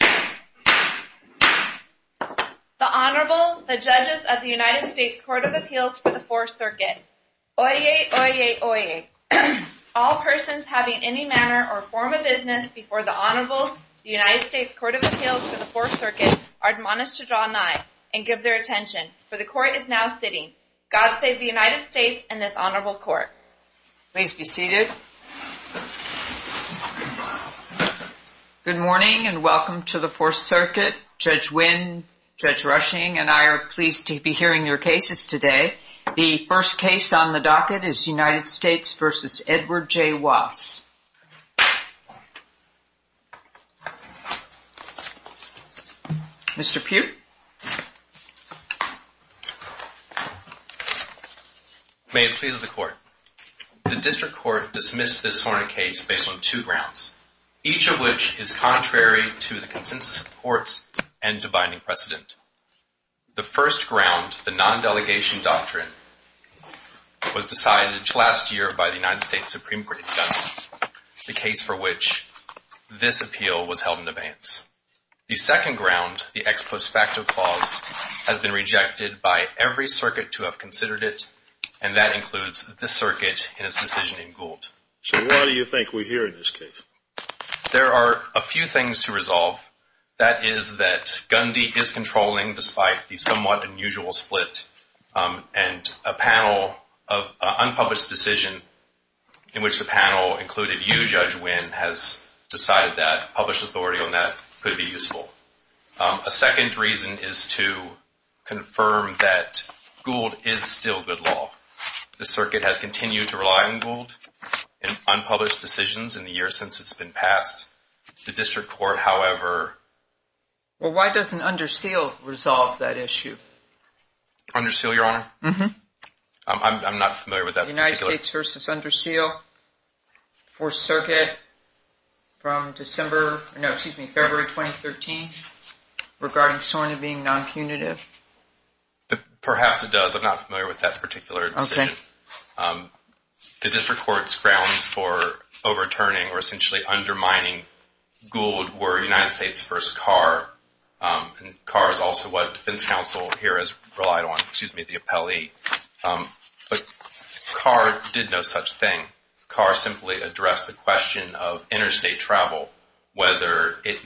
The Honorable, the Judges of the United States Court of Appeals for the 4th Circuit. Oyez, oyez, oyez. All persons having any manner or form of business before the Honorable, the United States Court of Appeals for the 4th Circuit, are admonished to draw nigh and give their attention, for the Court is now sitting. God save the United States and this Honorable Court. Please be seated. Good morning and welcome to the 4th Circuit. Judge Wynn, Judge Rushing and I are pleased to be hearing your cases today. The first case on the docket is United States v. Edward J. Wass. Mr. Pugh. May it please the Court. The District Court dismissed this sworn in case based on two grounds, each of which is contrary to the consensus of the courts and to binding precedent. The first ground, the non-delegation doctrine, was decided last year by the United States Supreme Court judge, the case for which this appeal was held in abeyance. The second ground, the ex post facto clause, has been rejected by every circuit to have considered it and that includes this circuit in its decision in Gould. So why do you think we're here in this case? There are a few things to resolve. That is that Gundy is controlling despite the somewhat unusual split and a panel of unpublished decision in which the panel included you, Judge Wynn, has decided that, published authority on that could be useful. A second reason is to confirm that Gould is still good law. The circuit has continued to rely on Gould in unpublished decisions in the years since it's been passed. The District Court, however... Well why doesn't Underseal resolve that issue? Underseal, Your Honor? I'm not familiar with that. United States v. Underseal, 4th Circuit, from December, no excuse me, February 2013, regarding SORNA being non-punitive? Perhaps it does. I'm not familiar with that particular decision. The District Court's grounds for overturning or essentially undermining Gould were United States v. Carr. Carr is also what defense counsel here has relied on, excuse me, the appellee. But Carr did no such thing. Carr simply addressed the question of interstate travel, whether it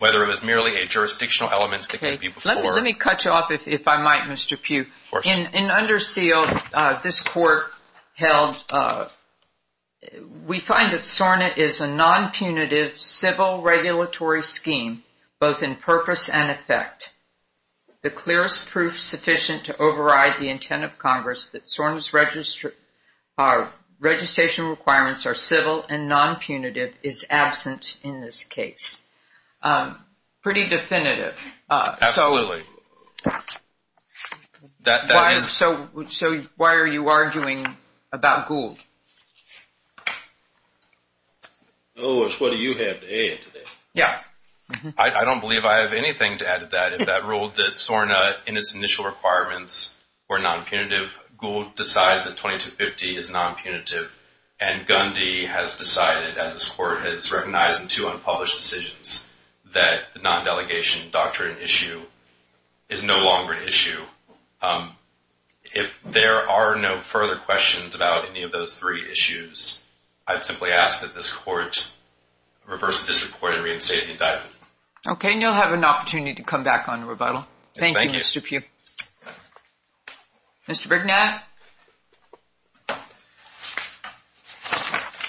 was merely a jurisdictional element that could be... Let me cut you off if I might, Mr. Pugh. In Underseal, this Court held, we find that SORNA is a non-punitive civil regulatory scheme both in purpose and effect. The clearest proof sufficient to override the intent of Congress that SORNA's registration requirements are civil and non-punitive is absent in this case. Pretty definitive. Absolutely. So why are you arguing about Gould? Lewis, what do you have to add to that? Yeah. I don't believe I have anything to add to that. If that ruled that SORNA, in its initial requirements, were non-punitive, Gould decides that 2250 is non-punitive, and Gundy has decided, as this Court has recognized in two unpublished decisions, that the non-delegation doctrine issue is no longer an issue. If there are no further questions about any of those three issues, I'd simply ask that this Court reverse this report and reinstate the indictment. Okay. And you'll have an opportunity to come back on the rebuttal. Thank you, Mr. Pugh. Mr. Brignac?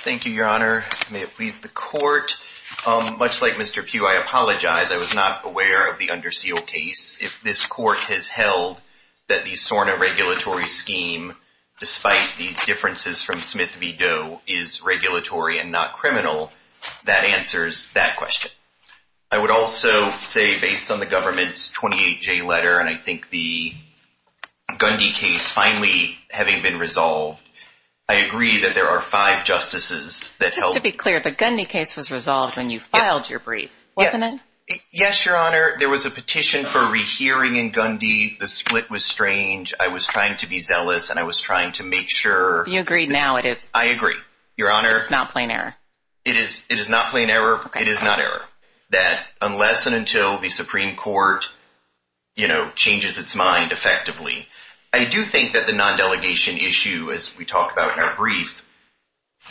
Thank you, Your Honor. May it please the Court. Much like Mr. Pugh, I apologize, I was not aware of the Underseal case. If this Court has held that the SORNA regulatory scheme, despite the differences from Smith v. Doe, is regulatory and not criminal, that answers that question. I would also say, based on the government's 28-J letter, and I think the Gundy case finally having been resolved, I agree that there are five justices that helped. Just to be clear, the Gundy case was resolved when you filed your brief, wasn't it? Yes, Your Honor. There was a petition for rehearing in Gundy. The split was strange. I was trying to be zealous, and I was trying to make sure. You agree now, it is. I agree, Your Honor. It's not plain error. It is not plain error. Okay. It is not error. That unless and until the Supreme Court, you know, changes its mind effectively, I do think that the non-delegation issue, as we talked about in our brief,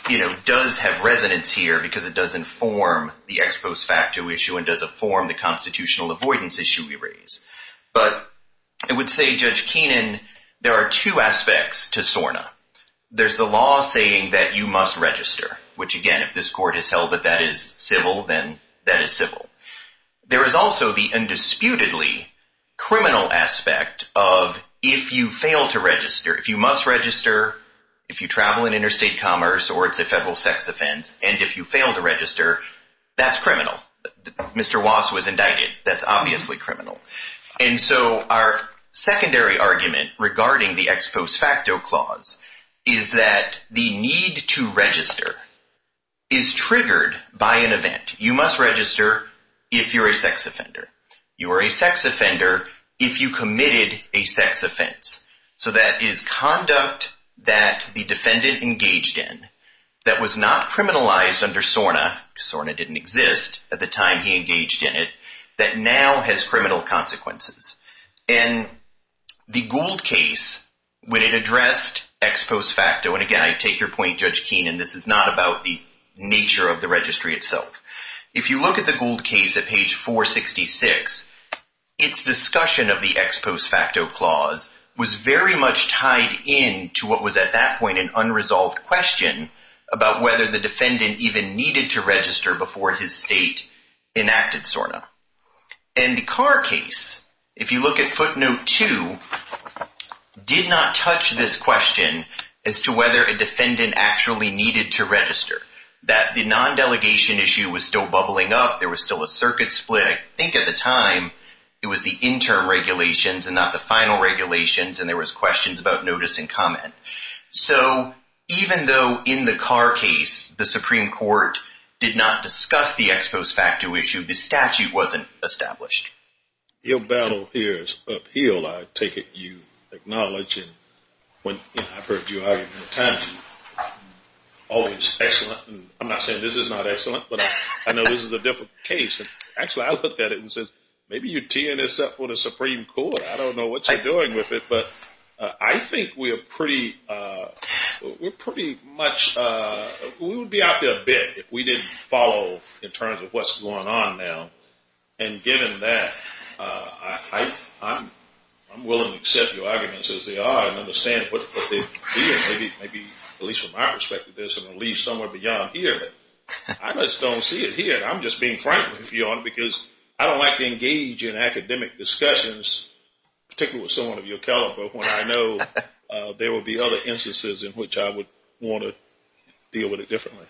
you know, does have resonance here because it does inform the ex post facto issue and does inform the constitutional avoidance issue we raise. But I would say, Judge Keenan, there are two aspects to SORNA. There's the law saying that you must register, which, again, if this court has held that that is civil, then that is civil. There is also the undisputedly criminal aspect of if you fail to register, if you must register, if you travel in interstate commerce or it's a federal sex offense, and if you fail to register, that's criminal. Mr. Wass was indicted. That's obviously criminal. And so our secondary argument regarding the ex post facto clause is that the need to register is triggered by an event. You must register if you're a sex offender. You are a sex offender if you committed a sex offense. So that is conduct that the defendant engaged in that was not criminalized under SORNA. SORNA didn't exist at the time he engaged in it, that now has criminal consequences. And the Gould case, when it addressed ex post facto, and again, I take your point, Judge Keenan, this is not about the nature of the registry itself. If you look at the Gould case at page 466, its discussion of the ex post facto clause was very much tied in to what was at that point an unresolved question about whether the defendant even needed to register before his state enacted SORNA. And the Carr case, if you look at footnote 2, did not touch this question as to whether a defendant actually needed to register. That the non-delegation issue was still bubbling up, there was still a circuit split. I think at the time it was the interim regulations and not the final regulations and there was questions about notice and comment. So even though in the Carr case, the Supreme Court did not discuss the ex post facto issue, the statute wasn't established. Your battle here is uphill, I take it you acknowledge, and when I've heard you argue many times, always excellent, and I'm not saying this is not excellent, but I know this is a difficult case. Actually, I looked at it and said, maybe you're teeing this up for the Supreme Court, I don't know what you're doing with it, but I think we're pretty much, we would be out there a bit if we didn't follow in terms of what's going on now. And given that, I'm willing to accept your arguments as they are and understand what they mean. Maybe, at least from my perspective, there's a relief somewhere beyond here. I just don't see it here, I'm just being frank with you because I don't like to engage in particular with someone of your caliber when I know there will be other instances in which I would want to deal with it differently.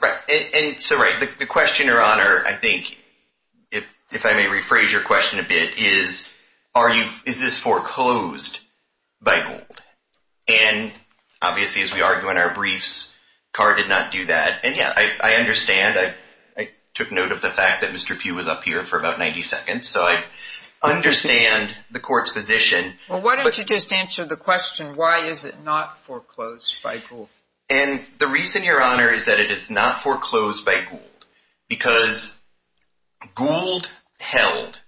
Right, and so right, the question, your honor, I think, if I may rephrase your question a bit is, is this foreclosed by Gould? And obviously as we argue in our briefs, Carr did not do that. And yeah, I understand, I took note of the fact that Mr. Pugh was up here for about 90 seconds. So I understand the court's position. Well, why don't you just answer the question, why is it not foreclosed by Gould? And the reason, your honor, is that it is not foreclosed by Gould because Gould held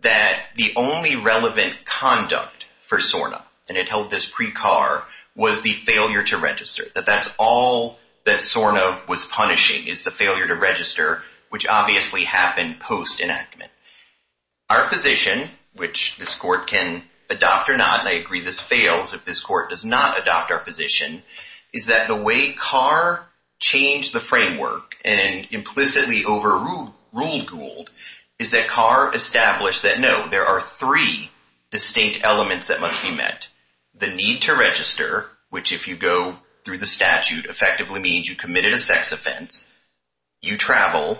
that the only relevant conduct for SORNA, and it held this pre-Carr, was the failure to register. That that's all that SORNA was punishing, is the failure to register, which obviously happened post enactment. Our position, which this court can adopt or not, and I agree this fails if this court does not adopt our position, is that the way Carr changed the framework and implicitly overruled Gould is that Carr established that no, there are three distinct elements that must be met. The need to register, which if you go through the statute effectively means you committed a sex offense, you travel,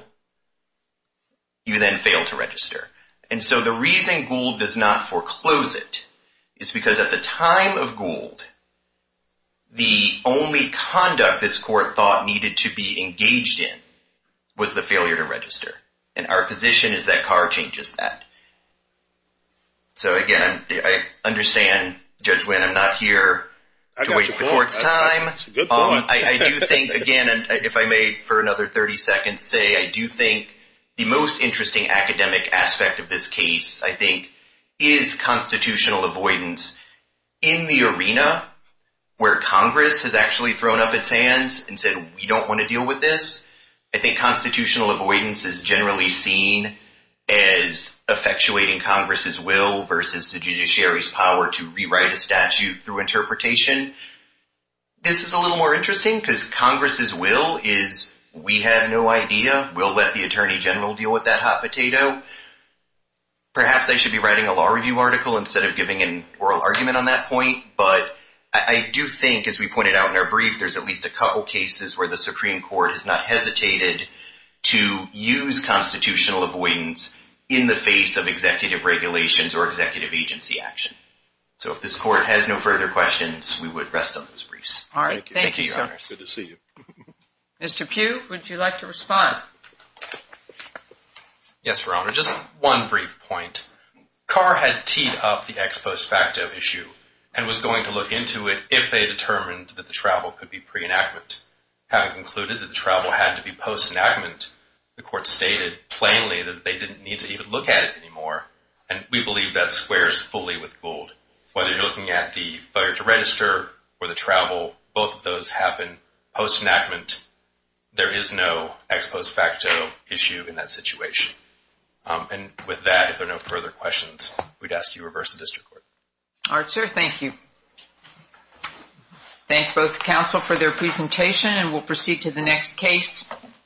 you then fail to register. And so the reason Gould does not foreclose it is because at the time of Gould, the only conduct this court thought needed to be engaged in was the failure to register. And our position is that Carr changes that. So again, I understand, Judge Wynn, I'm not here to waste the court's time. That's a good point. I do think, again, and if I may for another 30 seconds say, I do think the most interesting academic aspect of this case, I think, is constitutional avoidance in the arena where Congress has actually thrown up its hands and said, we don't want to deal with this. I think constitutional avoidance is generally seen as effectuating Congress's will versus the judiciary's power to rewrite a statute through interpretation. This is a little more interesting because Congress's will is, we have no idea, we'll let the Attorney General deal with that hot potato. Perhaps I should be writing a law review article instead of giving an oral argument on that point. But I do think, as we pointed out in our brief, there's at least a couple cases where the Supreme Court has not hesitated to use constitutional avoidance in the face of executive regulations or executive agency action. So if this court has no further questions, we would rest on those briefs. All right. Thank you. Thank you, Your Honor. Good to see you. Mr. Pugh, would you like to respond? Yes, Your Honor. Just one brief point. Carr had teed up the ex post facto issue and was going to look into it if they determined that the travel could be pre-enactment. Having concluded that the travel had to be post enactment, the court stated plainly that they didn't need to even look at it anymore. And we believe that squares fully with Gould. Whether you're looking at the failure to register or the travel, both of those happen post enactment. There is no ex post facto issue in that situation. And with that, if there are no further questions, we'd ask you to reverse the district court. All right, sir. Thank you. Thank both counsel for their presentation and we'll proceed to the next case.